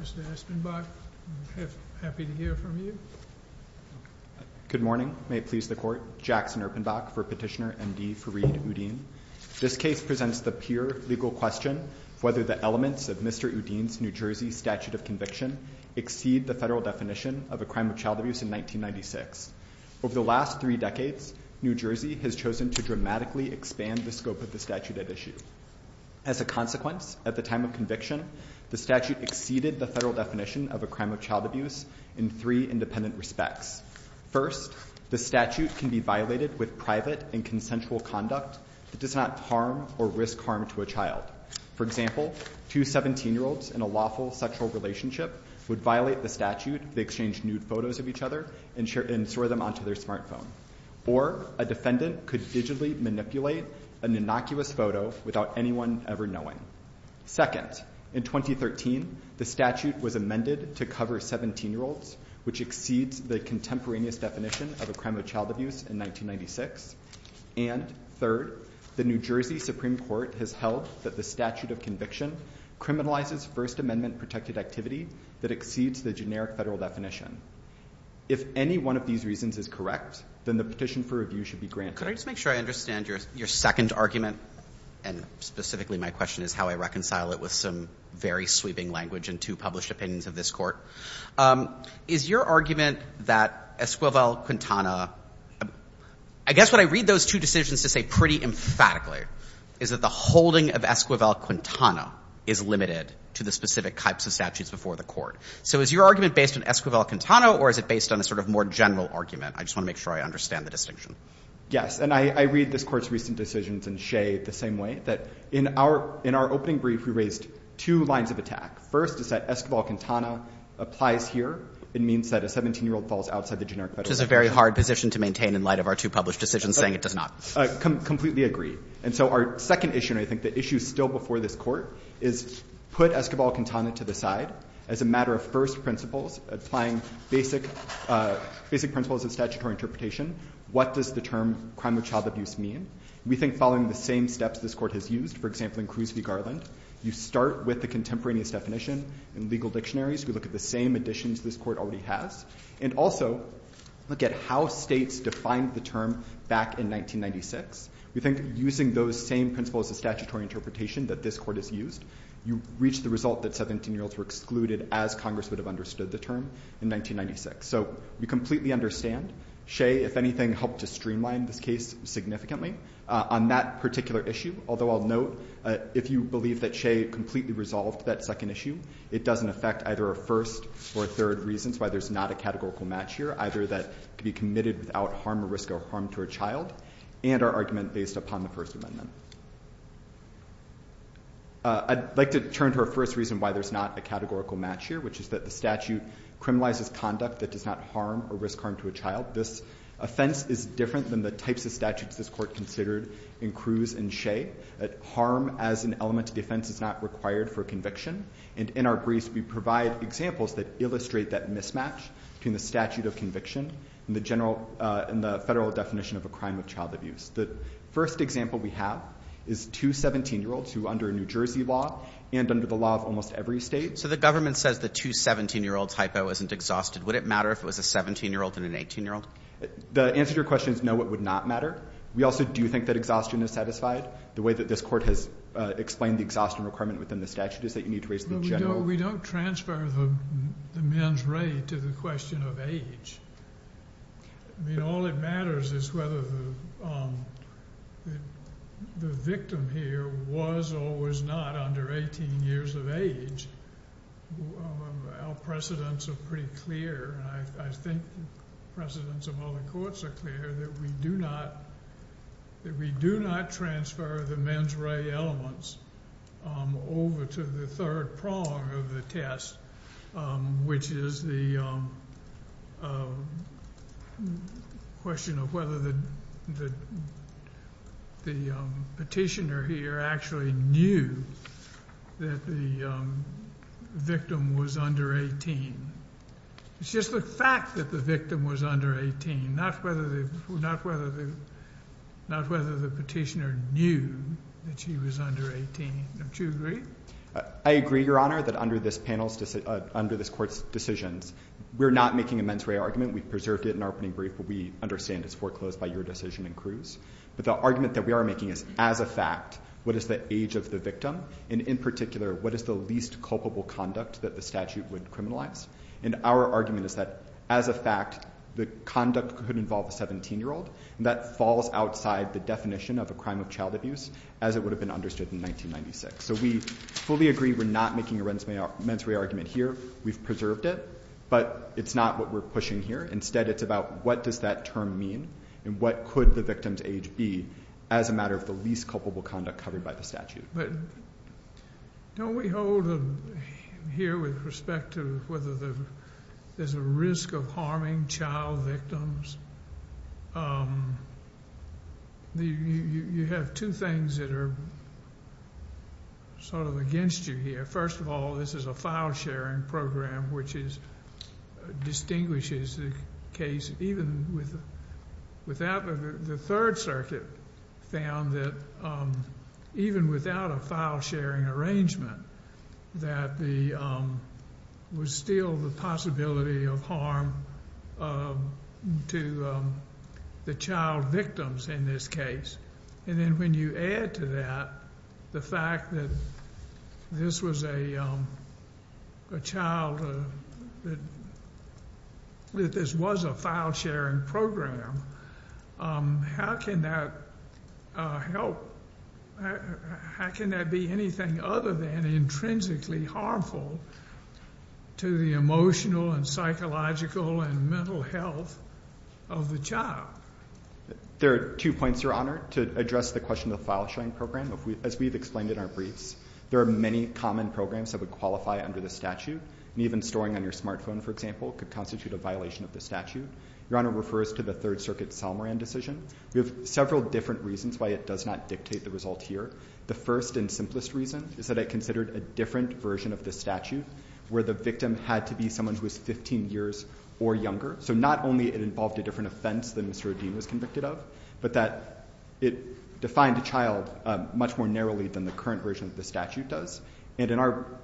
Mr. Espenbach, happy to hear from you. Good morning. May it please the Court. Jackson Erpenbach for Petitioner Md Fareed Uddin. This case presents the pure legal question whether the elements of Mr. Uddin's New Jersey statute of conviction exceed the federal definition of a crime of child abuse in 1996. Over the last three decades, New Jersey has chosen to dramatically expand the scope of the statute at issue. As a consequence, at the time of conviction, the statute exceeded the federal definition of a crime of child abuse in three independent respects. First, the statute can be violated with private and consensual conduct that does not harm or risk harm to a child. For example, two 17-year-olds in a lawful sexual relationship would violate the statute if they exchanged nude photos of each other and threw them onto their smartphone. Or a defendant could digitally manipulate an innocuous photo without anyone ever knowing. Second, in 2013, the statute was amended to cover 17-year-olds, which exceeds the contemporaneous definition of a crime of child abuse in 1996. And third, the New Jersey Supreme Court has held that the statute of conviction criminalizes First Amendment-protected activity that exceeds the generic federal definition. If any one of these reasons is correct, then the petition for review should be granted. Can I just make sure I understand your second argument? And specifically, my question is how I reconcile it with some very sweeping language in two published opinions of this Court. Is your argument that Esquivel-Quintana — I guess what I read those two decisions to say pretty emphatically is that the holding of Esquivel-Quintana is limited to the specific types of statutes before the Court. So is your argument based on Esquivel-Quintana, or is it based on a sort of more general argument? I just want to make sure I understand the distinction. Yes. And I read this Court's recent decisions in Shea the same way, that in our opening brief, we raised two lines of attack. First is that Esquivel-Quintana applies here. It means that a 17-year-old falls outside the generic federal definition. Which is a very hard position to maintain in light of our two published decisions saying it does not. I completely agree. And so our second issue, and I think the issue still before this Court, is put Esquivel-Quintana to the side as a matter of first principles, applying basic principles of statutory interpretation. What does the term crime of child abuse mean? We think following the same steps this Court has used, for example, in Cruz v. Garland, you start with the contemporaneous definition in legal dictionaries, we look at the same additions this Court already has, and also look at how states defined the term back in 1996. We think using those same principles of statutory interpretation that this Court has used, you reach the result that 17-year-olds were excluded as Congress would have understood the term in 1996. So we completely understand Shea, if anything, helped to streamline this case significantly. On that particular issue, although I'll note, if you believe that Shea completely resolved that second issue, it doesn't affect either a first or a third reasons why there's not a categorical match here, either that it could be committed without harm or risk or harm to a child, and our argument based upon the First Amendment. I'd like to turn to our first reason why there's not a categorical match here, which is that the statute criminalizes conduct that does not harm or risk harm to a child. This offense is different than the types of statutes this Court considered in Cruz and Harm as an element of defense is not required for conviction, and in our briefs we provide examples that illustrate that mismatch between the statute of conviction and the federal definition of a crime of child abuse. The first example we have is two 17-year-olds who under a New Jersey law and under the law of almost every state. So the government says the two 17-year-old typo isn't exhausted. Would it matter if it was a 17-year-old and an 18-year-old? The answer to your question is no, it would not matter. We also do think that exhaustion is satisfied. The way that this Court has explained the exhaustion requirement within the statute is that you need to raise the general. We don't transfer the mens rea to the question of age. I mean, all that matters is whether the victim here was or was not under 18 years of age. Our precedents are pretty clear, and I think precedents of other courts are clear, that we do not transfer the mens rea elements over to the third prong of the test, which is the question of whether the petitioner here actually knew that the victim was under 18. It's just the fact that the victim was under 18, not whether the petitioner knew that she was under 18. Don't you agree? I agree, Your Honor, that under this panel's decision, under this Court's decisions, we're not making a mens rea argument. We preserved it in our opening brief, but we understand it's foreclosed by your decision in Cruz. But the argument that we are making is, as a fact, what is the age of the victim? And in particular, what is the least culpable conduct that the statute would criminalize? And our argument is that, as a fact, the conduct could involve a 17-year-old, and that falls outside the definition of a crime of child abuse, as it would have been understood in 1996. So we fully agree we're not making a mens rea argument here. We've preserved it. But it's not what we're pushing here. Instead, it's about what does that term mean, and what could the victim's age be as a matter of the least culpable conduct covered by the statute? But don't we hold here, with respect to whether there's a risk of harming child victims? You have two things that are sort of against you here. First of all, this is a file-sharing program, which distinguishes the case. The Third Circuit found that, even without a file-sharing arrangement, that there was still the possibility of harm to the child victims in this case. And then when you add to that the fact that this was a child, that this was a file-sharing program, how can that help? How can that be anything other than intrinsically harmful to the emotional and psychological and mental health of the child? There are two points, Your Honor, to address the question of the file-sharing program. As we've explained in our briefs, there are many common programs that would qualify under the statute. And even storing on your smartphone, for example, could constitute a violation of the statute. Your Honor refers to the Third Circuit's Salmoran decision. We have several different reasons why it does not dictate the result here. The first and simplest reason is that it considered a different version of the statute, where the victim had to be someone who was 15 years or younger. So not only it involved a different offense than Mr. O'Dean was convicted of, but that it defined a child much more narrowly than the current version of the statute does. And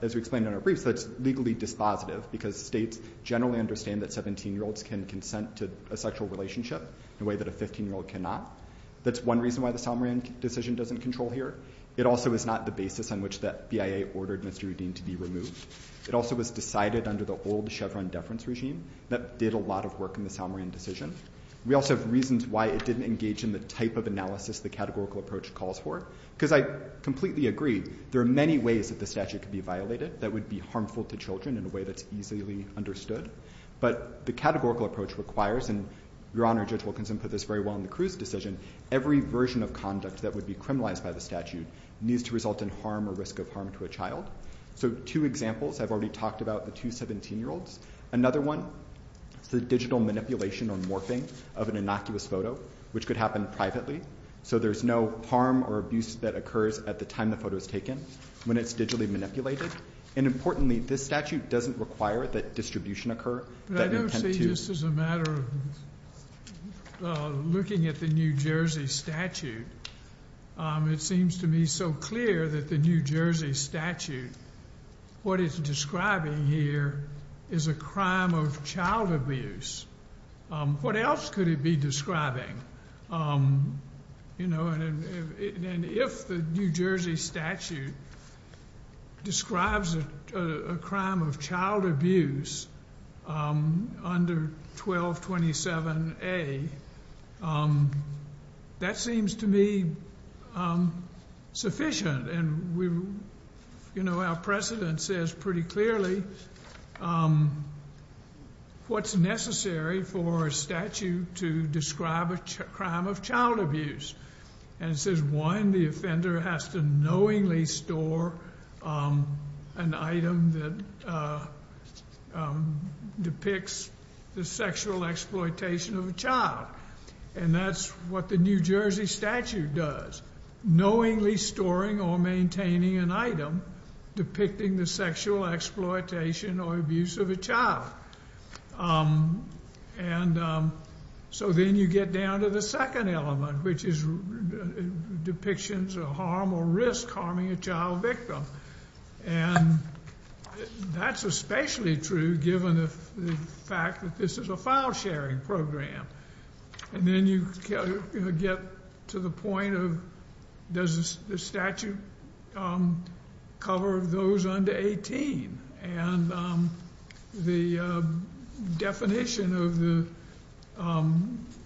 as we explained in our briefs, that's legally dispositive, because states generally understand that 17-year-olds can consent to a sexual relationship in a way that a 15-year-old cannot. That's one reason why the Salmoran decision doesn't control here. It also is not the basis on which the BIA ordered Mr. O'Dean to be removed. It also was decided under the old Chevron deference regime that did a lot of work in the Salmoran decision. We also have reasons why it didn't engage in the type of analysis the categorical approach calls for, because I completely agree, there are many ways that the statute could be violated that would be harmful to children in a way that's easily understood. But the categorical approach requires, and Your Honor, Judge Wilkinson put this very well in the Cruz decision, every version of conduct that would be criminalized by the statute needs to result in harm or risk of harm to a child. So two examples, I've already talked about the two 17-year-olds. Another one is the digital manipulation or morphing of an innocuous photo, which could happen privately. So there's no harm or abuse that occurs at the time the photo is taken when it's digitally manipulated. And importantly, this statute doesn't require that distribution occur. But I don't see, just as a matter of looking at the New Jersey statute, it seems to me so clear that the New Jersey statute, what it's describing here is a crime of child abuse. What else could it be describing? And if the New Jersey statute describes a crime of child abuse under 1227A, that seems to me sufficient. And our precedent says pretty clearly what's necessary for a statute to describe a crime of child abuse. And it says, one, the offender has to knowingly store an item that depicts the sexual exploitation of a child. And that's what the New Jersey statute does, knowingly storing or maintaining an item depicting the sexual exploitation or abuse of a child. And so then you get down to the second element, which is depictions of harm or risk harming a child victim. And that's especially true given the fact that this is a file-sharing program. And then you get to the point of, does the statute cover those under 18? And the definition of the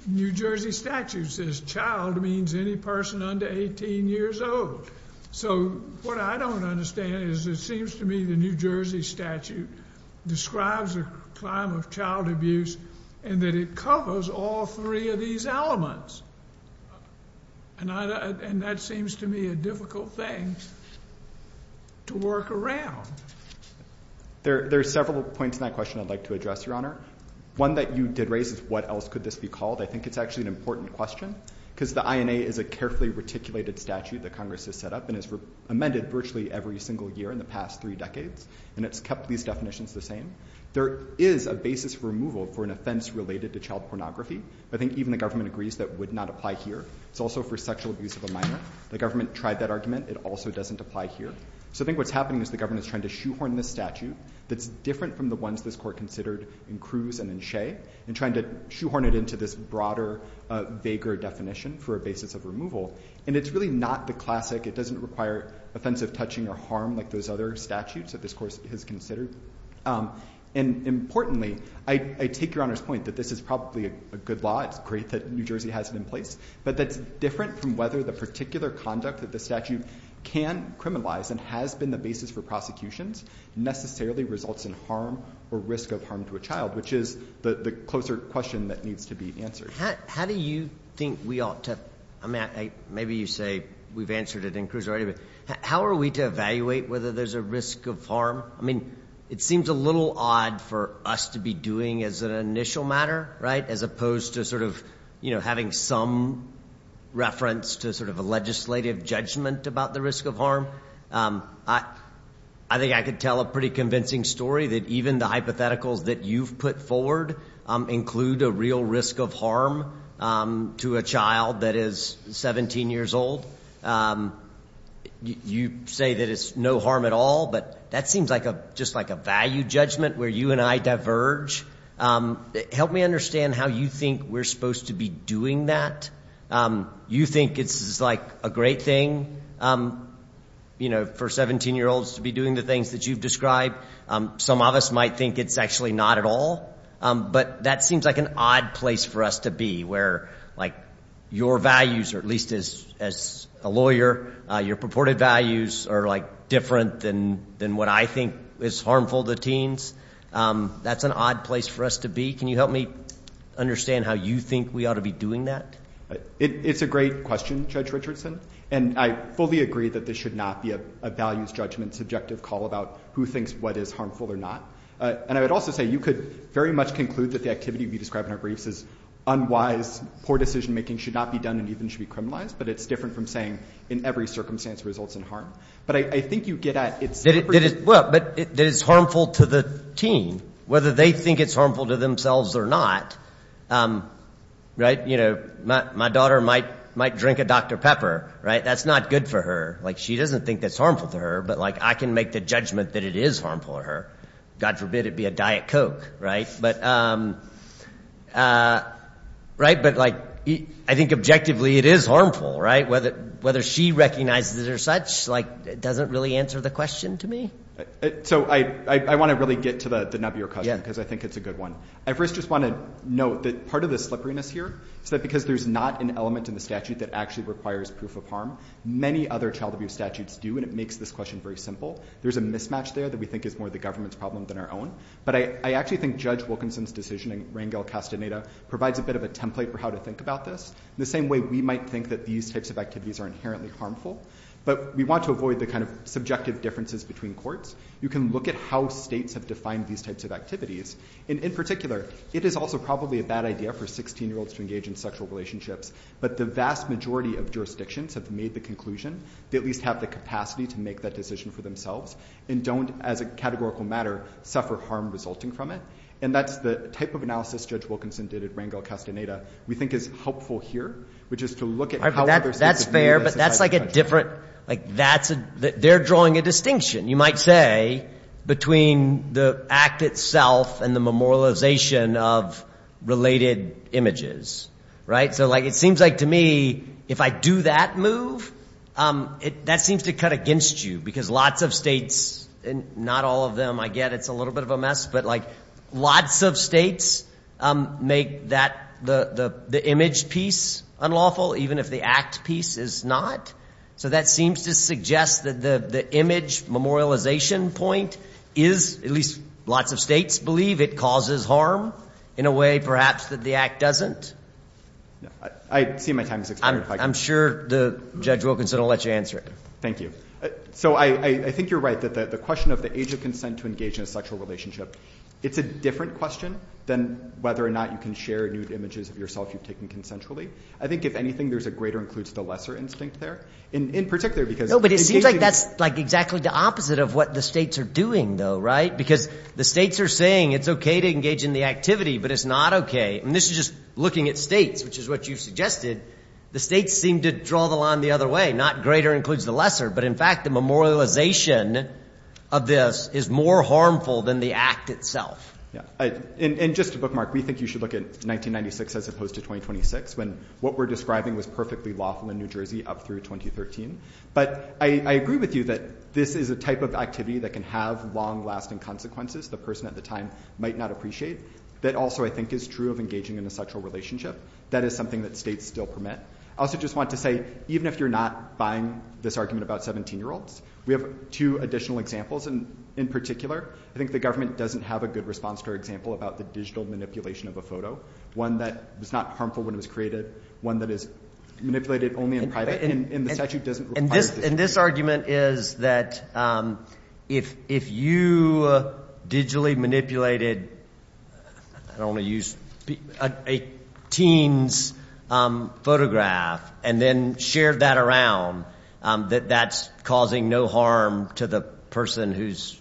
New Jersey statute says, child means any person under 18 years old. So what I don't understand is it seems to me the New Jersey statute describes a crime of child abuse and that it covers all three of these elements. And that seems to me a difficult thing to work around. There are several points in that question I'd like to address, Your Honor. One that you did raise is what else could this be called. I think it's actually an important question because the INA is a carefully reticulated statute that Congress has set up and has amended virtually every single year in the past three decades. And it's kept these definitions the same. There is a basis for removal for an offense related to child pornography. I think even the government agrees that would not apply here. It's also for sexual abuse of a minor. The government tried that argument. It also doesn't apply here. So I think what's happening is the government is trying to shoehorn this statute that's different from the ones this court considered in Cruz and in Shea and trying to shoehorn it into this broader, vaguer definition for a basis of removal. And it's really not the classic, it doesn't require offensive touching or harm like those other statutes that this court has considered. And importantly, I take Your Honor's point that this is probably a good law, it's great that New Jersey has it in place, but that's different from whether the particular conduct that the statute can criminalize and has been the basis for prosecutions necessarily results in harm or risk of harm to a child, which is the closer question that needs to be answered. How do you think we ought to, maybe you say, we've answered it in Cruz already, but how are we to evaluate whether there's a risk of harm? I mean, it seems a little odd for us to be doing as an initial matter, right, as opposed to sort of having some reference to sort of a legislative judgment about the risk of harm. I think I could tell a pretty convincing story that even the hypotheticals that you've put forward include a real risk of harm to a child that is 17 years old. You say that it's no harm at all, but that seems like a, just like a value judgment where you and I diverge. Help me understand how you think we're supposed to be doing that. You think it's like a great thing, you know, for 17-year-olds to be doing the things that you've described. Some of us might think it's actually not at all, but that seems like an odd place for us to be where like your values, or at least as a lawyer, your purported values are like different than what I think is harmful to teens. That's an odd place for us to be. Can you help me understand how you think we ought to be doing that? It's a great question, Judge Richardson, and I fully agree that this should not be a values judgment subjective call about who thinks what is harmful or not. And I would also say you could very much conclude that the activity we described in our briefs is unwise, poor decision-making, should not be done, and even should be criminalized, but it's different from saying in every circumstance results in harm. But I think you get at it's... Well, but it is harmful to the teen, whether they think it's harmful to themselves or not. Right? You know, my daughter might drink a Dr. Pepper, right? That's not good for her. She doesn't think that's harmful to her, but I can make the judgment that it is harmful to her. God forbid it be a Diet Coke, right? But I think objectively it is harmful, right? Whether she recognizes it or such doesn't really answer the question to me. So I want to really get to the nub of your question, because I think it's a good one. I first just want to note that part of the slipperiness here is that because there's not an element in the statute that actually requires proof of harm. Many other child abuse statutes do, and it makes this question very simple. There's a mismatch there that we think is more the government's problem than our own. But I actually think Judge Wilkinson's decision in Rangel-Castaneda provides a bit of a template for how to think about this, the same way we might think that these types of activities are inherently harmful. But we want to avoid the kind of subjective differences between courts. You can look at how states have defined these types of activities, and in particular, it is also probably a bad idea for 16-year-olds to engage in sexual relationships. But the vast majority of jurisdictions have made the conclusion they at least have the capacity to make that decision for themselves, and don't, as a categorical matter, suffer harm resulting from it. And that's the type of analysis Judge Wilkinson did at Rangel-Castaneda we think is helpful here, which is to look at how other states have realized this type of punishment. That's fair, but that's like a different—they're drawing a distinction, you might say, between the act itself and the memorialization of related images, right? So it seems like to me, if I do that move, that seems to cut against you, because lots of states—and not all of them, I get, it's a little bit of a mess—but lots of states make the image piece unlawful, even if the act piece is not. So that seems to suggest that the image memorialization point is, at least lots of states believe, it causes harm in a way, perhaps, that the act doesn't. I see my time is expiring, Mike. I'm sure Judge Wilkinson will let you answer it. Thank you. So I think you're right that the question of the age of consent to engage in a sexual relationship, it's a different question than whether or not you can share nude images of yourself you've taken consensually. I think, if anything, there's a greater-includes-the-lesser instinct there. In particular, because— No, but it seems like that's exactly the opposite of what the states are doing, though, right? Because the states are saying it's okay to engage in the activity, but it's not okay. I mean, this is just looking at states, which is what you've suggested. The states seem to draw the line the other way. Not greater-includes-the-lesser, but in fact, the memorialization of this is more harmful than the act itself. Yeah. And just to bookmark, we think you should look at 1996 as opposed to 2026, when what we're describing was perfectly lawful in New Jersey up through 2013. But I agree with you that this is a type of activity that can have long-lasting consequences the person at the time might not appreciate, that also, I think, is true of engaging in a sexual relationship. That is something that states still permit. I also just want to say, even if you're not buying this argument about 17-year-olds, we have two additional examples, and in particular, I think the government doesn't have a good response to our example about the digital manipulation of a photo, one that is not harmful when it was created, one that is manipulated only in private, and the statute doesn't require this. And this argument is that if you digitally manipulated a teen's photograph and then shared that around, that that's causing no harm to the person whose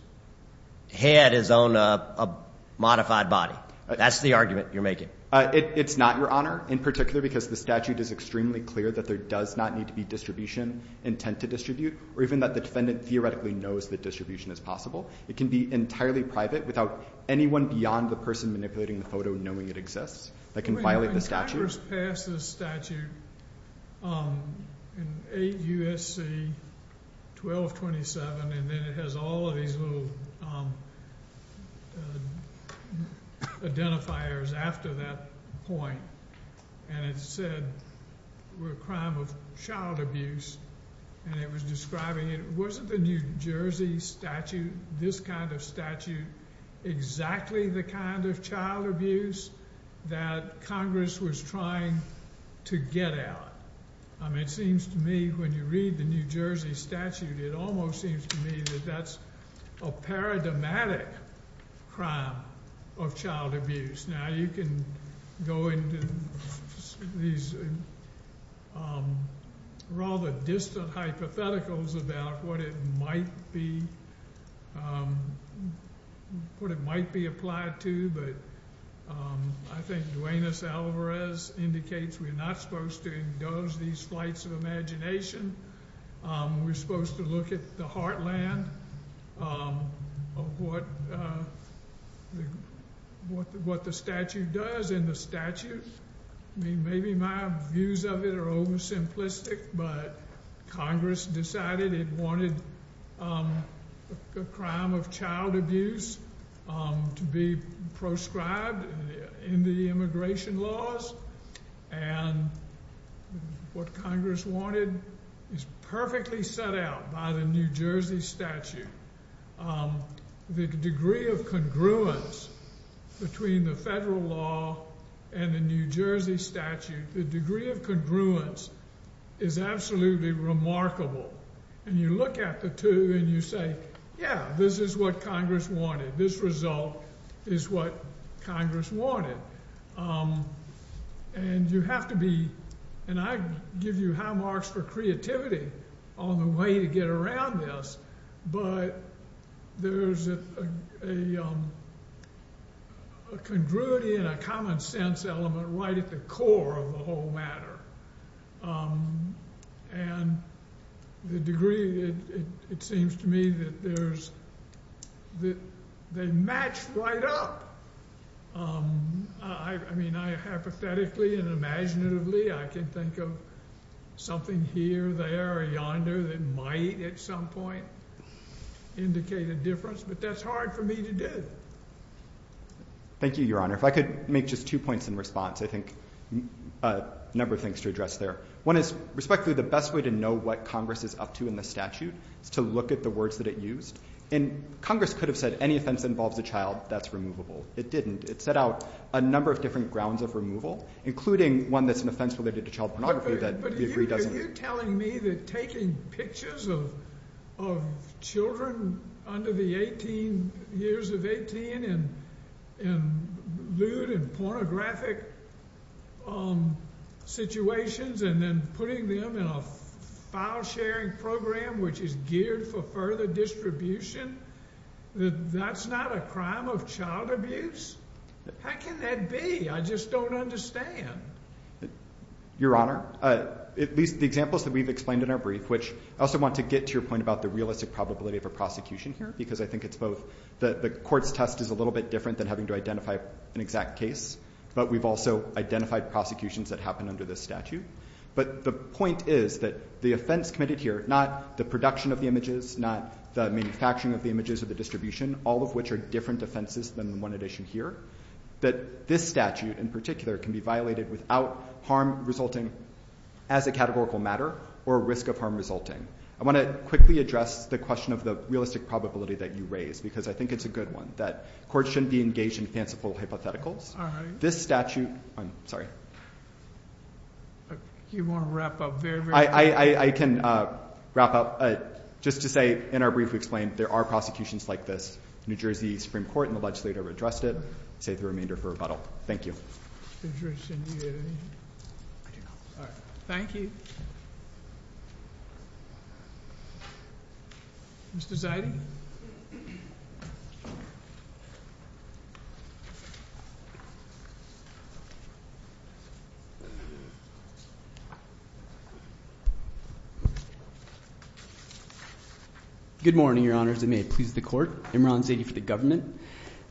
head is on a modified body. That's the argument you're making. It's not, Your Honor, in particular because the statute is extremely clear that there does not need to be distribution, intent to distribute, or even that the defendant theoretically knows that distribution is possible. It can be entirely private without anyone beyond the person manipulating the photo knowing it exists. That can violate the statute. I first passed this statute in 8 U.S.C. 1227, and then it has all of these little identifiers after that point, and it said we're a crime of child abuse, and it was describing it. Wasn't the New Jersey statute, this kind of statute, exactly the kind of child abuse that Congress was trying to get at. It seems to me when you read the New Jersey statute, it almost seems to me that that's a paradigmatic crime of child abuse. Now you can go into these rather distant hypotheticals about what it might be, what it might be applied to, but I think Duenas-Alvarez indicates we're not supposed to indulge these flights of imagination. We're supposed to look at the heartland of what the statute does in the statute. Maybe my views of it are oversimplistic, but Congress decided it wanted a crime of child abuse to be proscribed in the immigration laws, and what Congress wanted is perfectly set out by the New Jersey statute. The degree of congruence between the federal law and the New Jersey statute, the degree of congruence is absolutely remarkable, and you look at the two and you say, yeah, this is what Congress wanted. This result is what Congress wanted, and you have to be, and I give you high marks for creativity on the way to get around this, but there's a congruity and a common sense element right at the core of the whole matter, and the degree, it seems to me that there's a, they match right up. I mean, I hypothetically and imaginatively, I can think of something here, there, or yonder that might at some point indicate a difference, but that's hard for me to do. Thank you, Your Honor. If I could make just two points in response, I think a number of things to address there. One is, respectfully, the best way to know what Congress is up to in the statute is to look at the words that it used, and Congress could have said, any offense that involves a child, that's removable. It didn't. It set out a number of different grounds of removal, including one that's an offense related to child pornography that we agree doesn't. But you're telling me that taking pictures of children under the 18, years of 18, and lewd and pornographic situations, and then putting them in a file-sharing program which is geared for further distribution, that that's not a crime of child abuse? How can that be? I just don't understand. Your Honor, at least the examples that we've explained in our brief, which I also want to get to your point about the realistic probability of a prosecution here, because I think it's both the court's test is a little bit different than having to identify an exact case, but we've also identified prosecutions that happen under this statute. But the point is that the offense committed here, not the production of the images, not the manufacturing of the images or the distribution, all of which are different offenses than the one addition here, that this statute in particular can be violated without harm resulting as a categorical matter or risk of harm resulting. I want to quickly address the question of the realistic probability that you raised, because I think it's a good one, that courts shouldn't be engaged in fanciful hypotheticals. This statute, I'm sorry. You want to wrap up very, very quickly. I can wrap up. Just to say, in our brief we explained, there are prosecutions like this. New Jersey Supreme Court and the legislature have addressed it. Save the remainder for rebuttal. Thank you. Thank you. Mr. Ziding? Good morning, your honors, and may it please the court. Imran Zadi for the government.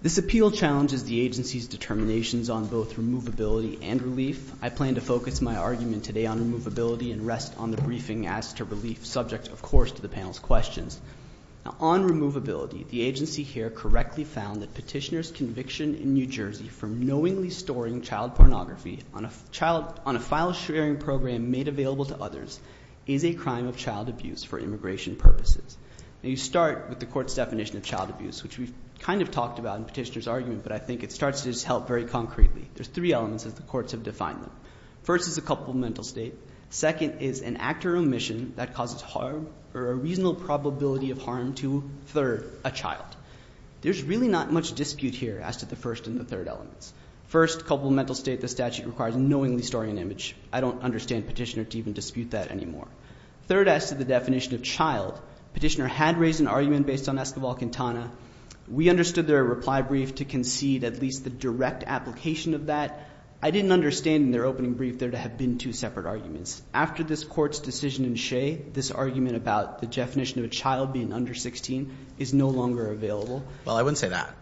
This appeal challenges the agency's determinations on both removability and relief. I plan to focus my argument today on removability and rest on the briefing as to relief, subject, of course, to the panel's questions. On removability, the agency here correctly found that petitioner's conviction in New Jersey for knowingly storing child pornography on a file sharing program made available to others. Is a crime of child abuse for immigration purposes. You start with the court's definition of child abuse, which we've kind of talked about in petitioner's argument, but I think it starts to just help very concretely. There's three elements that the courts have defined them. First is a couple mental state. Second is an actor omission that causes harm or a reasonable probability of harm to, third, a child. There's really not much dispute here as to the first and the third elements. First, couple mental state, the statute requires knowingly storing an image. I don't understand petitioner to even dispute that anymore. Third, as to the definition of child, petitioner had raised an argument based on Escobar-Quintana. We understood their reply brief to concede at least the direct application of that. I didn't understand in their opening brief there to have been two separate arguments. After this court's decision in Shea, this argument about the definition of a child being under 16 is no longer available. Well, I wouldn't say that.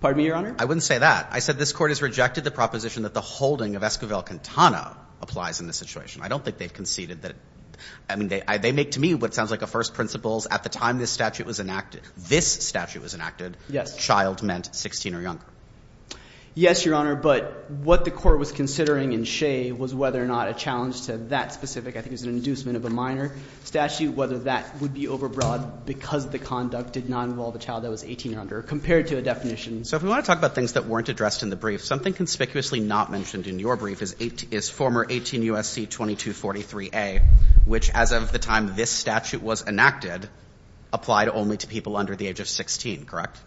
Pardon me, Your Honor? I wouldn't say that. I said this court has rejected the proposition that the holding of Escobar-Quintana applies in this situation. I don't think they've conceded that. I mean, they make to me what sounds like a first principles at the time this statute was enacted. This statute was enacted. Yes. Child meant 16 or younger. Yes, Your Honor, but what the court was considering in Shea was whether or not a challenge to that specific, I think it was an inducement of a minor statute, whether that would be overbroad because the conduct did not involve a child that was 18 or under, compared to a definition. So if we want to talk about things that weren't addressed in the brief, something conspicuously not mentioned in your brief is former 18 U.S.C. 2243a, which as of the time this statute was enacted, applied only to people under the age of 16, correct?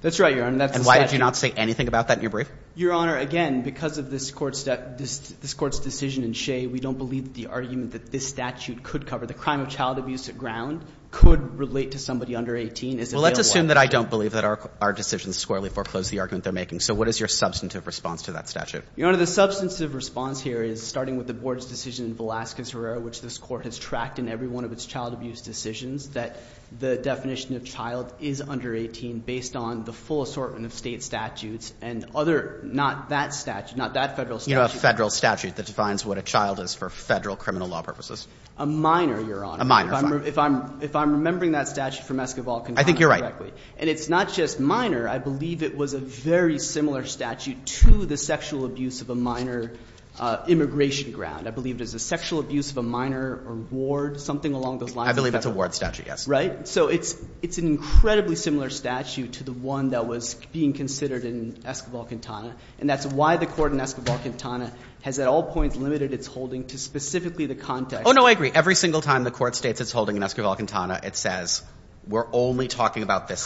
That's right, Your Honor. And why did you not say anything about that in your brief? Your Honor, again, because of this court's decision in Shea, we don't believe the argument that this statute could cover the crime of child abuse at ground could relate to somebody under 18. Well, let's assume that I don't believe that our decisions squarely foreclose the argument they're making. So what is your substantive response to that statute? Your Honor, the substantive response here is, starting with the board's decision in Velazquez-Herrera, which this court has tracked in every one of its child abuse decisions, that the definition of child is under 18 based on the full assortment of state statutes and other, not that statute, not that federal statute. You don't have a federal statute that defines what a child is for federal criminal law purposes. A minor, Your Honor. A minor, fine. If I'm remembering that statute from Esquivel, can you tell me correctly? I think you're right. And it's not just minor. I believe it was a very similar statute to the sexual abuse of a minor immigration ground. I believe it was a sexual abuse of a minor or ward, something along those lines. I believe it's a ward statute, yes. Right? So it's an incredibly similar statute to the one that was being considered in Esquivel-Quintana. And that's why the court in Esquivel-Quintana has at all points limited its holding to specifically the context. Oh, no, I agree. Every single time the court states its holding in Esquivel-Quintana, it says, we're only talking about this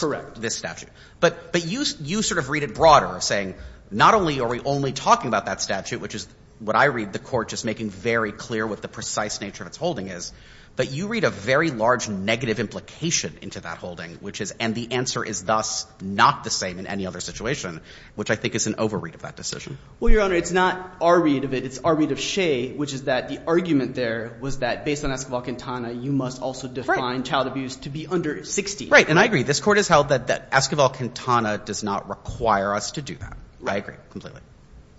statute. But you sort of read it broader, saying, not only are we only talking about that statute, which is what I read. The court just making very clear what the precise nature of its holding is. But you read a very large negative implication into that holding, which is, and the answer is thus not the same in any other situation, which I think is an over-read of that decision. Well, Your Honor, it's not our read of it. It's our read of Shea, which is that the argument there was that, based on Esquivel-Quintana, you must also define child abuse to be under 60. Right. And I agree. This Court has held that Esquivel-Quintana does not require us to do that. I agree completely.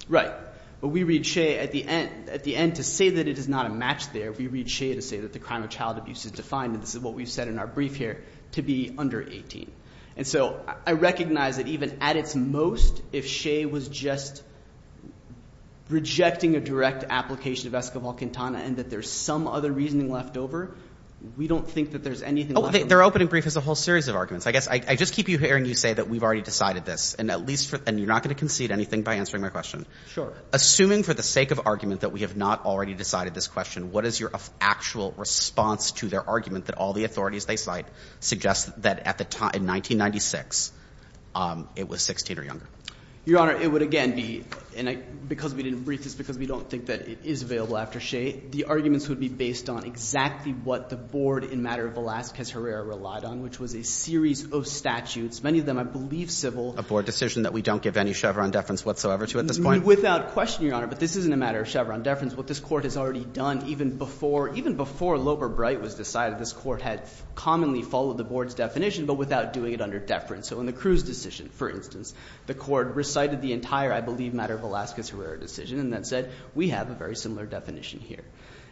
Right. But we read Shea at the end to say that it is not a match there. We read Shea to say that the crime of child abuse is defined, and this is what we've said in our brief here, to be under 18. And so I recognize that even at its most, if Shea was just rejecting a direct application of Esquivel-Quintana and that there's some other reasoning left over, we don't think that there's anything left over. Oh, their opening brief has a whole series of arguments. I guess I just keep hearing you say that we've already decided this, and you're not going to concede anything by answering my question. Sure. Assuming for the sake of argument that we have not already decided this question, what is your actual response to their argument that all the authorities they cite suggest that at the time, in 1996, it was 16 or younger? Your Honor, it would again be, and because we didn't brief this because we don't think that it is available after Shea, the arguments would be based on exactly what the board in matter of Velazquez-Herrera relied on, which was a series of statutes, many of them, I believe, civil. A board decision that we don't give any Chevron deference whatsoever to at this point? Without question, Your Honor, but this isn't a matter of Chevron deference. What this court has already done, even before Loeber-Bright was decided, this court had commonly followed the board's definition, but without doing it under deference. So in the Cruz decision, for instance, the court recited the entire, I believe, matter of Velazquez-Herrera decision, and then said, we have a very similar definition here.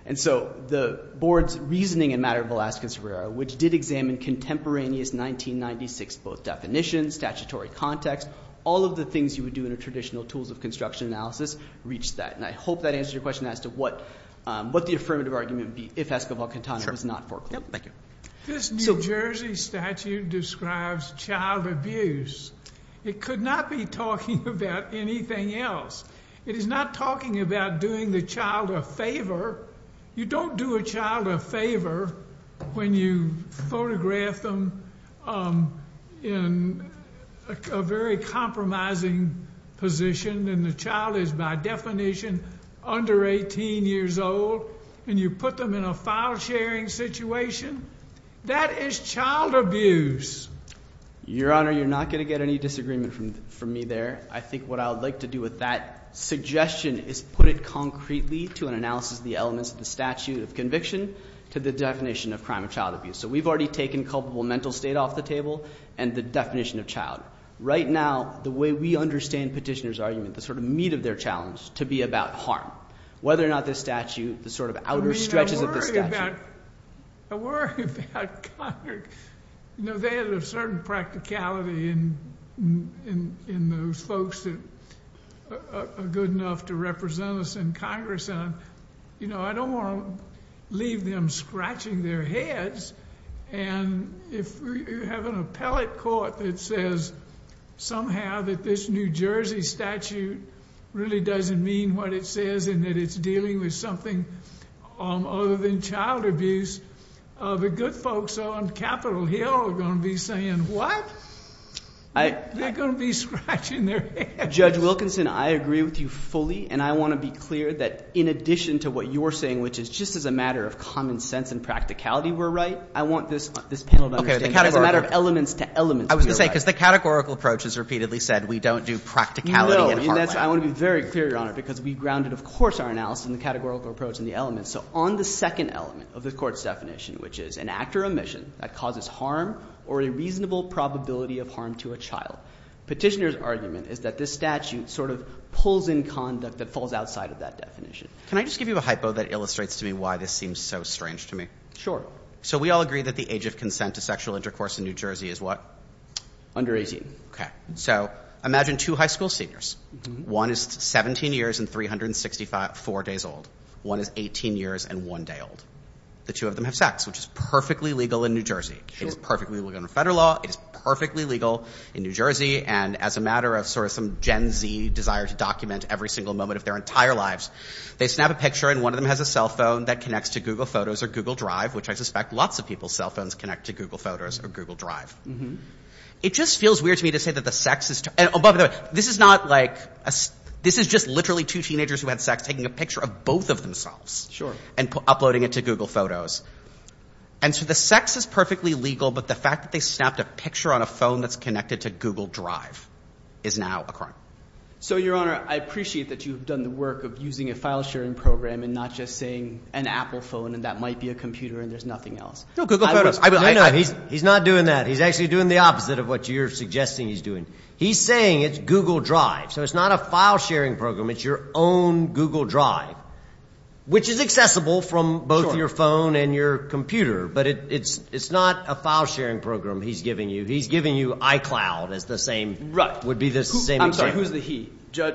And so the board's reasoning in matter of Velazquez-Herrera, which did examine contemporaneous 1996, both definitions, statutory context, all of the things you would do in a traditional tools of construction analysis, reached that. And I hope that answers your question as to what the affirmative argument would be if Escobar-Quintana was not foreclosed. Thank you. This New Jersey statute describes child abuse. It could not be talking about anything else. It is not talking about doing the child a favor. You don't do a child a favor when you photograph them in a very compromising position, and the child is by definition under 18 years old, and you put them in a file sharing situation. That is child abuse. Your Honor, you're not going to get any disagreement from me there. I think what I would like to do with that suggestion is put it concretely to an analysis of the elements of the statute of conviction to the definition of crime of child abuse. So we've already taken culpable mental state off the table and the definition of child. Right now, the way we understand petitioner's argument, the sort of meat of their challenge, to be about harm. Whether or not this statute, the sort of outer stretches of this statute. I worry about, you know, they had a certain practicality in those folks that are good enough to represent us in Congress. And, you know, I don't want to leave them scratching their heads. And if you have an appellate court that says somehow that this New Jersey statute really doesn't mean what it says and that it's dealing with something other than child abuse, the good folks on Capitol Hill are going to be saying, what? They're going to be scratching their heads. Judge Wilkinson, I agree with you fully. And I want to be clear that in addition to what you're saying, which is just as a matter of common sense and practicality, we're right. I want this panel to understand that as a matter of elements to elements, we're right. I was going to say, because the categorical approach has repeatedly said we don't do practicality in part way. I want to be very clear, Your Honor, because we grounded, of course, our analysis in the categorical approach and the elements. So on the second element of the court's definition, which is an act or omission that causes harm or a reasonable probability of harm to a child. Petitioner's argument is that this statute sort of pulls in conduct that falls outside of that definition. Can I just give you a hypo that illustrates to me why this seems so strange to me? So we all agree that the age of consent to sexual intercourse in New Jersey is what? Under 18. Okay, so imagine two high school seniors. One is 17 years and 365, four days old. One is 18 years and one day old. The two of them have sex, which is perfectly legal in New Jersey. It is perfectly legal in federal law. It is perfectly legal in New Jersey. And as a matter of sort of some Gen Z desire to document every single moment of their entire lives, they snap a picture and one of them has a cell phone that connects to Google Photos or Google Drive, which I suspect lots of people's cell phones connect to Google Photos or Google Drive. It just feels weird to me to say that the sexist. And this is not like this is just literally two teenagers who had sex taking a picture of both of themselves. Sure. And uploading it to Google Photos. And so the sex is perfectly legal, but the fact that they snapped a picture on a phone that's connected to Google Drive is now a crime. So, Your Honor, I appreciate that you've done the work of using a file sharing program and not just saying an Apple phone, and that might be a computer and there's nothing else. No, Google Photos. No, no, he's not doing that. He's actually doing the opposite of what you're suggesting he's doing. He's saying it's Google Drive. So it's not a file sharing program. It's your own Google Drive, which is accessible from both your phone and your computer. But it's not a file sharing program he's giving you. He's giving you iCloud as the same, would be the same example. I'm sorry, who's the he?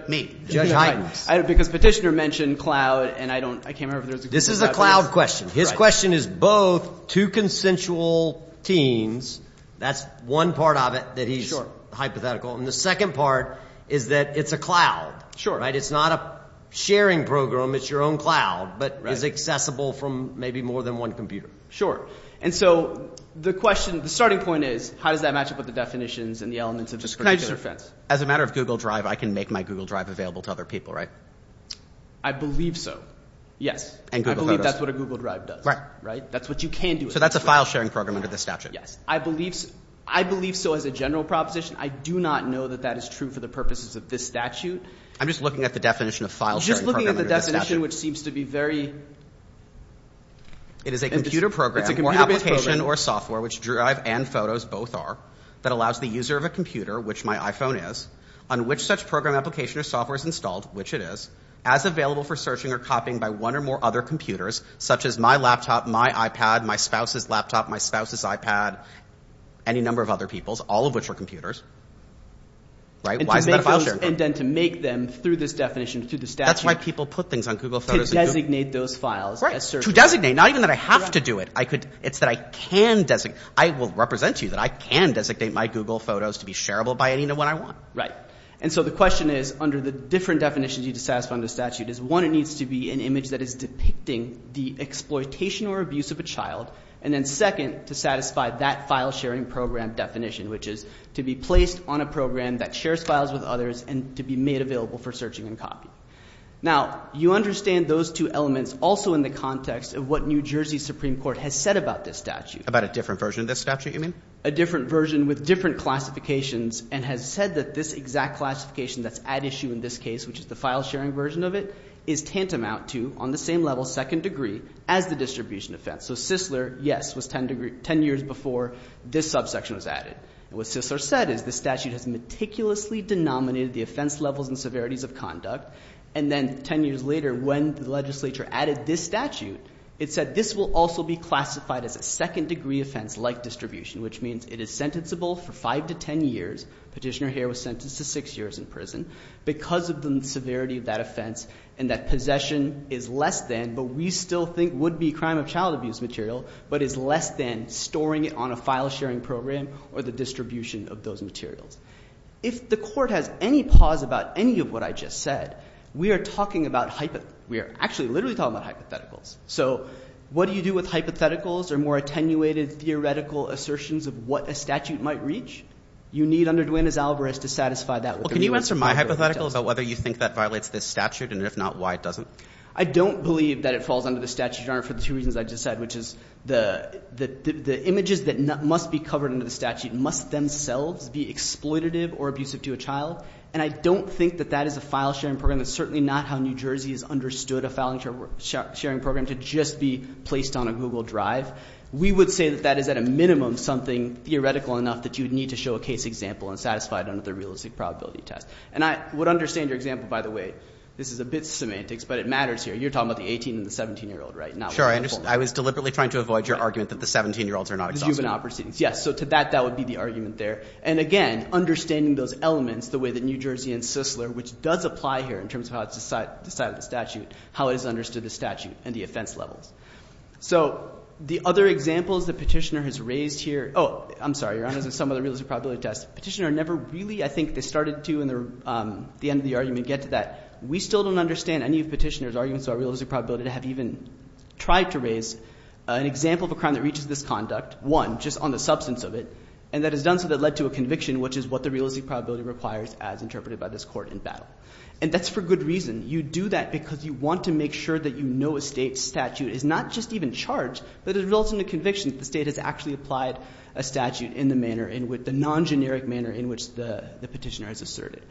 Me. Judge Hytens. Because Petitioner mentioned cloud and I don't, I can't remember if there was a cloud. This is a cloud question. His question is both two consensual teens. That's one part of it that he's hypothetical. And the second part is that it's a cloud. Sure. It's not a sharing program. It's your own cloud, but is accessible from maybe more than one computer. And so the question, the starting point is how does that match up with the definitions and the elements of this particular fence? As a matter of Google Drive, I can make my Google Drive available to other people, right? I believe so. Yes. And Google Photos. I believe that's what a Google Drive does. Right. Right. That's what you can do. So that's a file sharing program under the statute. Yes. I believe so. I believe so as a general proposition. I do not know that that is true for the purposes of this statute. I'm just looking at the definition of file sharing program under this statute. Just looking at the definition, which seems to be very... It is a computer program or application or software, which Drive and Photos both are, that allows the user of a computer, which my iPhone is, on which such program application or software is installed, which it is, as available for searching or copying by one or more other computers, such as my laptop, my iPad, my spouse's laptop, my spouse's iPad, any number of other people's, all of which are computers. Right? Why is that a file sharing program? And then to make them, through this definition, through the statute... That's why people put things on Google Photos and Google... To designate those files as searchable. Right. To designate, not even that I have to do it. It's that I can designate. I will represent to you that I can designate my Google Photos to be shareable by anyone I want. Right. And so the question is, under the different definitions you need to satisfy under the statute, is one, it needs to be an image that is depicting the exploitation or abuse of a child. And then second, to satisfy that file sharing program definition, which is to be placed on a program that shares files with others and to be made available for searching and copying. Now, you understand those two elements also in the context of what New Jersey Supreme Court has said about this statute. About a different version of this statute, you mean? A different version with different classifications and has said that this exact classification that's at issue in this case, which is the file sharing version of it, is tantamount to, on the same level, second degree, as the distribution offense. So Sisler, yes, was ten years before this subsection was added. And what Sisler said is the statute has meticulously denominated the offense levels and severities of conduct. And then ten years later, when the legislature added this statute, it said this will also be classified as a second degree offense like distribution, which means it is sentencible for five to ten years. Petitioner Hare was sentenced to six years in prison because of the severity of that offense and that possession is less than, but we still think would be, crime of child abuse. But it's less than storing it on a file sharing program or the distribution of those materials. If the court has any pause about any of what I just said, we are talking about hypotheticals. We are actually literally talking about hypotheticals. So what do you do with hypotheticals or more attenuated theoretical assertions of what a statute might reach? You need under Duenas-Alvarez to satisfy that with a rewritten statute. Well, can you answer my hypothetical about whether you think that violates this statute? And if not, why it doesn't? I don't believe that it falls under the statute, Your Honor, for the two reasons I just said, which is the images that must be covered under the statute must themselves be exploitative or abusive to a child. And I don't think that that is a file sharing program. That's certainly not how New Jersey has understood a file sharing program to just be placed on a Google Drive. We would say that that is at a minimum something theoretical enough that you would need to show a case example and satisfy it under the realistic probability test. And I would understand your example, by the way. This is a bit semantics, but it matters here. You're talking about the 18 and the 17-year-old, right? Sure. I was deliberately trying to avoid your argument that the 17-year-olds are not exhausted. Yes. So to that, that would be the argument there. And again, understanding those elements the way that New Jersey and Sisler, which does apply here in terms of how it's decided the statute, how it is understood the statute and the offense levels. So the other examples that Petitioner has raised here – oh, I'm sorry. Your Honor, this is some of the realistic probability tests. Petitioner never really – I think they started to in the end of the argument get to that. We still don't understand any of Petitioner's arguments about realistic probability to have even tried to raise an example of a crime that reaches this conduct, one, just on the substance of it. And that is done so that it led to a conviction, which is what the realistic probability requires as interpreted by this court in battle. And that's for good reason. You do that because you want to make sure that you know a state's statute is not just even charged, but it results in a conviction that the state has actually applied a statute in the manner – in the non-generic manner in which the Petitioner has asserted.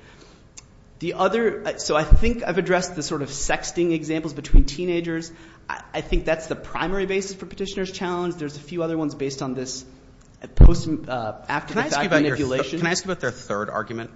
The other – so I think I've addressed the sort of sexting examples between teenagers. I think that's the primary basis for Petitioner's challenge. There's a few other ones based on this post – after the fact manipulation. Can I ask you about your – can I ask you about their third argument?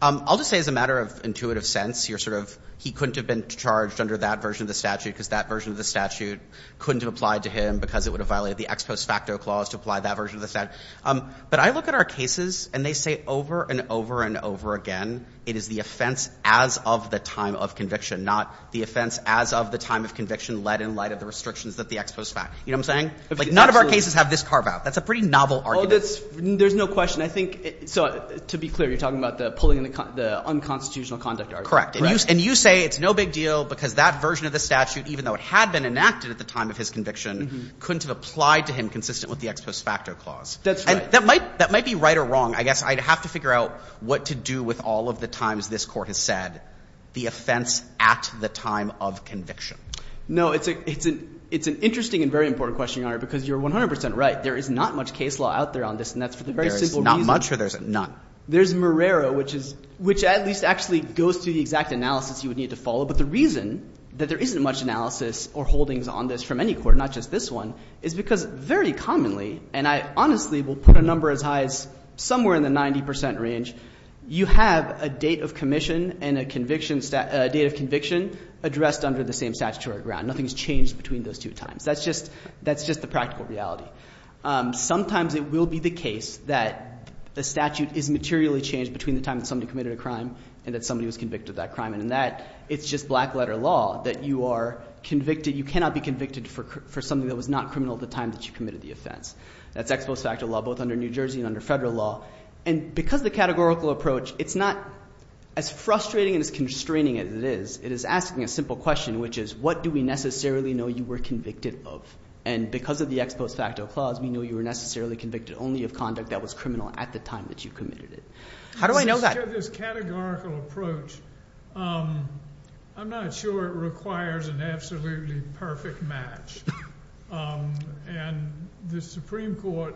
I'll just say as a matter of intuitive sense, you're sort of – he couldn't have been charged under that version of the statute because that version of the statute couldn't have applied to him because it would have violated the ex post facto clause to apply that version of the statute. But I look at our cases and they say over and over and over again it is the offense as of the time of conviction, not the offense as of the time of conviction led in light of the restrictions of the ex post facto. You know what I'm saying? None of our cases have this carve out. That's a pretty novel argument. There's no question. And I think – so to be clear, you're talking about the pulling in the unconstitutional conduct argument. Correct. And you say it's no big deal because that version of the statute, even though it had been enacted at the time of his conviction, couldn't have applied to him consistent with the ex post facto clause. That's right. And that might be right or wrong. I guess I'd have to figure out what to do with all of the times this court has said the offense at the time of conviction. No, it's an interesting and very important question, Your Honor, because you're 100 percent right. There is not much case law out there on this. And that's for the very simple reason – There's not much or there's none? There's Marrero, which is – which at least actually goes to the exact analysis you would need to follow. But the reason that there isn't much analysis or holdings on this from any court, not just this one, is because very commonly – and I honestly will put a number as high as somewhere in the 90 percent range – you have a date of commission and a conviction – a date of conviction addressed under the same statutory ground. Nothing's changed between those two times. That's just the practical reality. Sometimes it will be the case that the statute is materially changed between the time that somebody committed a crime and that somebody was convicted of that crime. And in that, it's just black-letter law that you are convicted – you cannot be convicted for something that was not criminal at the time that you committed the offense. That's ex post facto law both under New Jersey and under federal law. And because of the categorical approach, it's not as frustrating and as constraining as it is. It is asking a simple question, which is what do we necessarily know you were convicted of? And because of the ex post facto clause, we know you were necessarily convicted only of conduct that was criminal at the time that you committed it. How do I know that? This categorical approach, I'm not sure it requires an absolutely perfect match. And the Supreme Court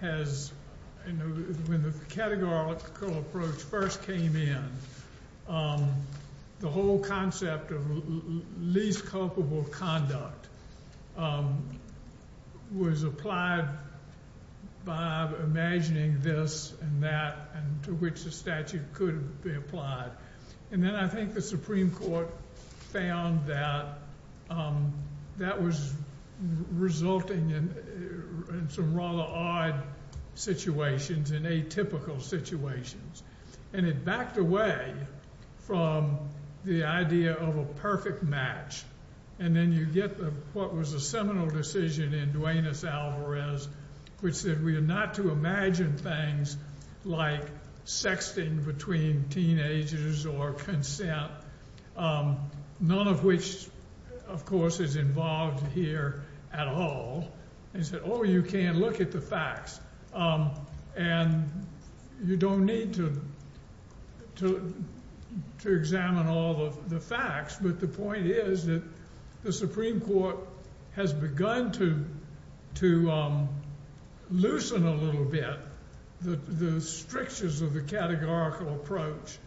has – when the categorical approach first came in, the whole concept of least culpable conduct was applied by imagining this and that, and to which the statute could be applied. And then I think the Supreme Court found that that was resulting in some rather odd situations and atypical situations. And it backed away from the idea of a perfect match. And then you get what was a seminal decision in Duenas-Alvarez, which said we are not to imagine things like sexting between teenagers or consent, none of which, of course, is involved here at all. They said, oh, you can't look at the facts. And you don't need to examine all of the facts. But the point is that the Supreme Court has begun to loosen a little bit the strictures of the categorical approach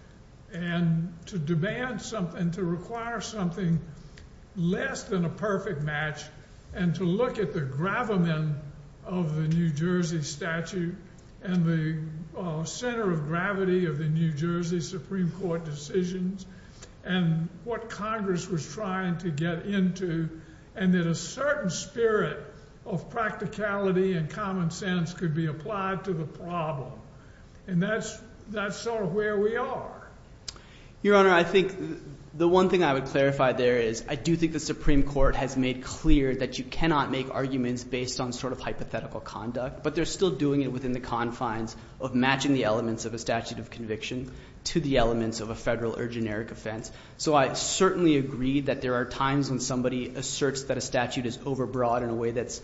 and to demand something, to require something less than a perfect match and to look at the gravamen of the New Jersey statute and the center of gravity of the New Jersey Supreme Court decisions and what Congress was trying to get into and that a certain spirit of practicality and common sense could be applied to the problem. And that's sort of where we are. Your Honor, I think the one thing I would clarify there is I do think the Supreme Court has made clear that you cannot make arguments based on sort of hypothetical conduct, but they're still doing it within the confines of matching the elements of a statute of conviction to the elements of a federal or generic offense. So I certainly agree that there are times when somebody asserts that a statute is overbroad in a way that's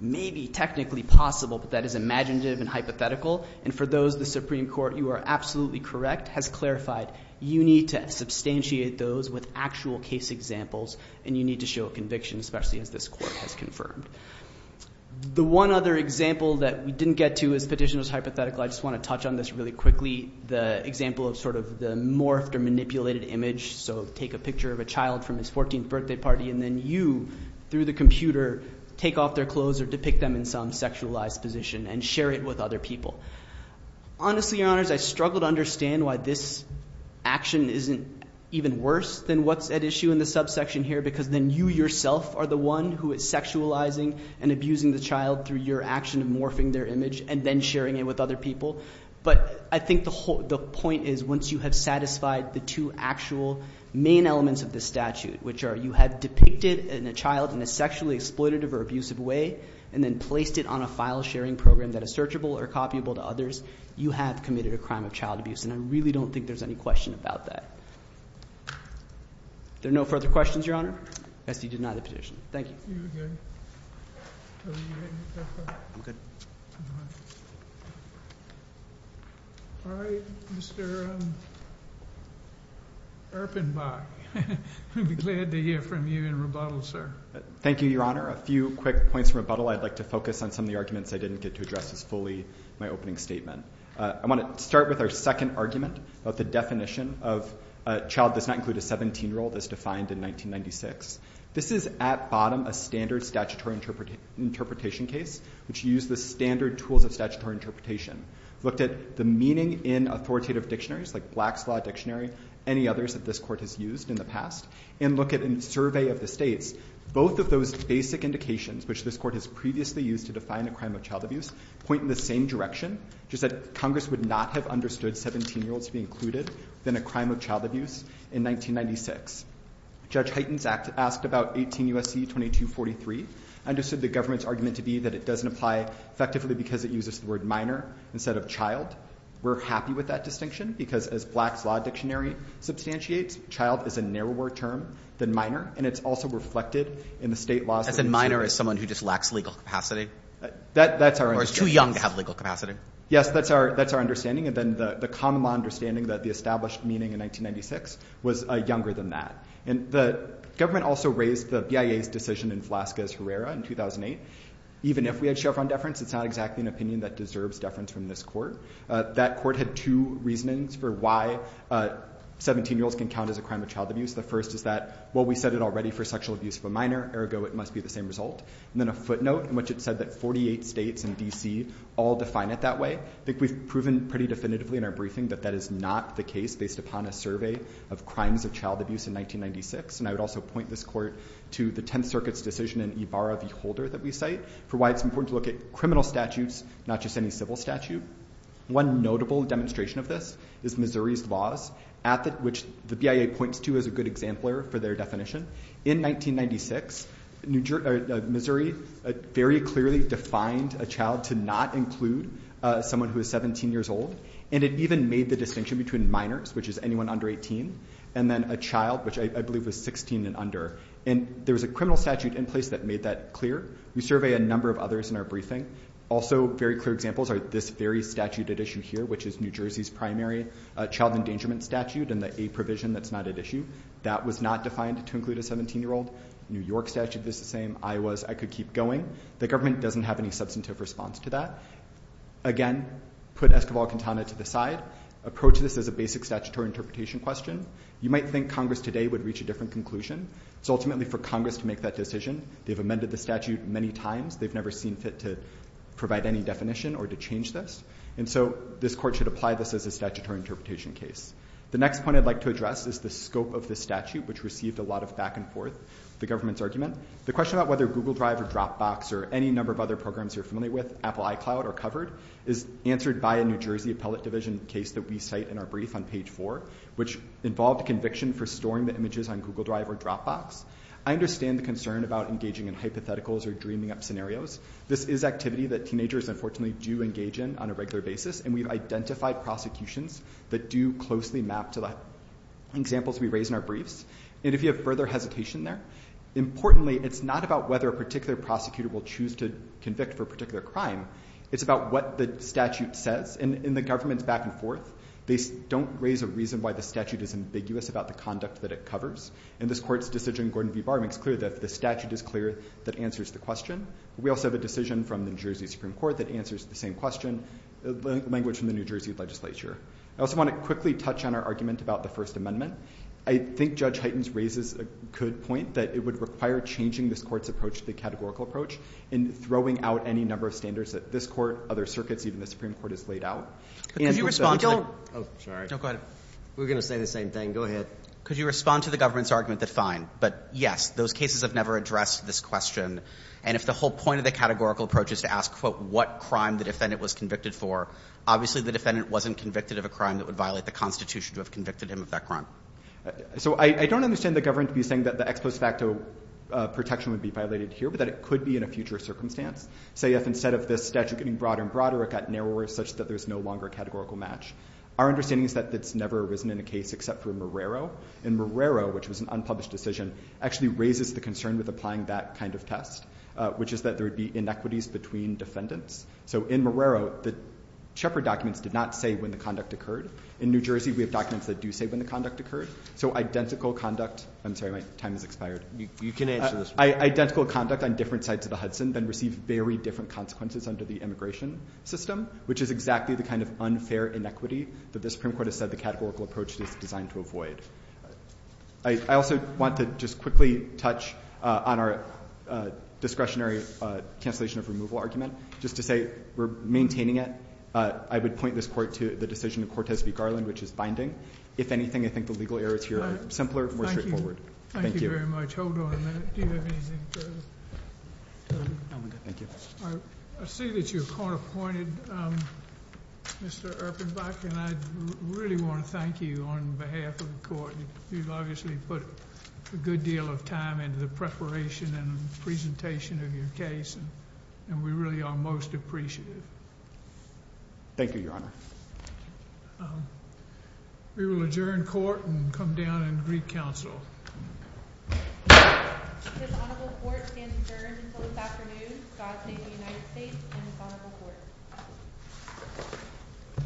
maybe technically possible, but that is imaginative and hypothetical. And for those, the Supreme Court, you are absolutely correct, has clarified you need to substantiate those with actual case examples and you need to show a conviction, especially as this court has confirmed. The one other example that we didn't get to is petitioners hypothetical. I just want to touch on this really quickly, the example of sort of the morphed or manipulated image. So take a picture of a child from his 14th birthday party and then you, through the computer, take off their clothes or depict them in some sexualized position and share it with other people. Honestly, Your Honors, I struggle to understand why this action isn't even worse than what's at issue in the subsection here because then you yourself are the one who is sexualizing and abusing the child through your action of morphing their image and then sharing it with other people. But I think the point is once you have satisfied the two actual main elements of the statute, which are you have depicted a child in a sexually exploitative or abusive way and then placed it on a file sharing program that is searchable or copyable to others, you have committed a crime of child abuse. And I really don't think there's any question about that. There are no further questions, Your Honor? Yes, he denied the petition. Thank you. All right, Mr. Erpenbach. We'll be glad to hear from you in rebuttal, sir. Thank you, Your Honor. A few quick points of rebuttal. I'd like to focus on some of the arguments I didn't get to address as fully in my opening statement. I want to start with our second argument, about the definition of a child does not include a 17-year-old as defined in 1996. This is at bottom a standard statutory interpretation case, which used the standard tools of statutory interpretation. Looked at the meaning in authoritative dictionaries like Black's Law Dictionary, any others that this court has used in the past, and look at a survey of the states. Both of those basic indications, which this court has previously used to define a crime of child abuse, point in the same direction, just that Congress would not have understood 17-year-olds to be included in a crime of child abuse in 1996. Judge Hyten's act asked about 18 U.S.C. 2243, understood the government's argument to be that it doesn't apply effectively because it uses the word minor instead of child. We're happy with that distinction, because as Black's Law Dictionary substantiates, child is a narrower term than minor, and it's also reflected in the state laws. As in minor as someone who just lacks legal capacity? That's our understanding. Or too young to have legal capacity. Yes, that's our understanding. And then the common law understanding that the established meaning in 1996 was younger than that. And the government also raised the BIA's decision in Velazquez-Herrera in 2008. Even if we had show-front deference, it's not exactly an opinion that deserves deference from this court. That court had two reasonings for why 17-year-olds can count as a crime of child abuse. The first is that, well, we said it already for sexual abuse of a minor, ergo it must be the same result. And then a footnote in which it said that 48 states and D.C. all define it that way. I think we've proven pretty definitively in our briefing that that is not the case based upon a survey of crimes of child abuse in 1996. And I would also point this court to the Tenth Circuit's decision in Ibarra v. Holder that we cite for why it's important to look at criminal statutes, not just any civil statute. One notable demonstration of this is Missouri's laws, which the BIA points to as a good exemplar for their definition. In 1996, Missouri very clearly defined a child to not include someone who is 17 years old, and it even made the distinction between minors, which is anyone under 18, and then a child, which I believe was 16 and under. And there was a criminal statute in place that made that clear. We survey a number of others in our briefing. Also very clear examples are this very statute at issue here, which is New Jersey's primary child endangerment statute and the A provision that's not at issue. That was not defined to include a 17-year-old. New York statute is the same. Iowa's I could keep going. The government doesn't have any substantive response to that. Again, put Esquivel-Quintana to the side. Approach this as a basic statutory interpretation question. You might think Congress today would reach a different conclusion. It's ultimately for Congress to make that decision. They've amended the statute many times. They've never seen fit to provide any definition or to change this. And so this court should apply this as a statutory interpretation case. The next point I'd like to address is the scope of this statute, which received a lot of back-and-forth, the government's argument. The question about whether Google Drive or Dropbox or any number of other programs you're familiar with, Apple iCloud or Covered, is answered by a New Jersey appellate division case that we cite in our brief on page 4, which involved a conviction for storing the images on Google Drive or Dropbox. I understand the concern about engaging in hypotheticals or dreaming up scenarios. This is activity that teenagers, unfortunately, do engage in on a regular basis, and we've identified prosecutions that do closely map to the examples we raise in our briefs. And if you have further hesitation there, importantly, it's not about whether a particular prosecutor will choose to convict for a particular crime. It's about what the statute says. In the government's back-and-forth, they don't raise a reason why the statute is ambiguous about the conduct that it covers. And this court's decision in Gordon v. Barr makes clear that the statute is clear that answers the question. We also have a decision from the New Jersey Supreme Court that answers the same question, language from the New Jersey legislature. I also want to quickly touch on our argument about the First Amendment. I think Judge Heitens raises a good point that it would require changing this court's approach to the categorical approach and throwing out any number of standards that this court, other circuits, even the Supreme Court has laid out. Could you respond to the... Oh, sorry. No, go ahead. We were going to say the same thing. Go ahead. Could you respond to the government's argument that fine, but yes, those cases have never addressed this question, and if the whole point of the categorical approach is to ask, quote, what crime the defendant was convicted for, obviously the defendant wasn't convicted of a crime that would violate the Constitution to have convicted him of that crime. So I don't understand the government to be saying that the ex post facto protection would be violated here, but that it could be in a future circumstance. Say if instead of this statute getting broader and broader, it got narrower such that there's no longer a categorical match. Our understanding is that that's never arisen in a case except for Marrero, and Marrero, which was an unpublished decision, actually raises the concern with applying that kind of test, which is that there would be inequities between defendants. So in Marrero, the Shepard documents did not say when the conduct occurred. In New Jersey, we have documents that do say when the conduct occurred. So identical conduct—I'm sorry, my time has expired. You can answer this one. Identical conduct on different sides of the Hudson then received very different consequences under the immigration system, which is exactly the kind of unfair inequity that the Supreme Court has said the categorical approach is designed to avoid. I also want to just quickly touch on our discretionary cancellation of removal argument. Just to say we're maintaining it. I would point this Court to the decision of Cortes v. Garland, which is binding. If anything, I think the legal errors here are simpler, more straightforward. Thank you. Thank you very much. Hold on a minute. Do you have anything further? No, I'm good. Thank you. I see that you're court-appointed, Mr. Erpenbach, and I really want to thank you on behalf of the Court. You've obviously put a good deal of time into the preparation and presentation of your case, and we really are most appreciative. Thank you, Your Honor. We will adjourn court and come down and greet counsel. His Honorable Court stands adjourned until this afternoon. God save the United States and His Honorable Court.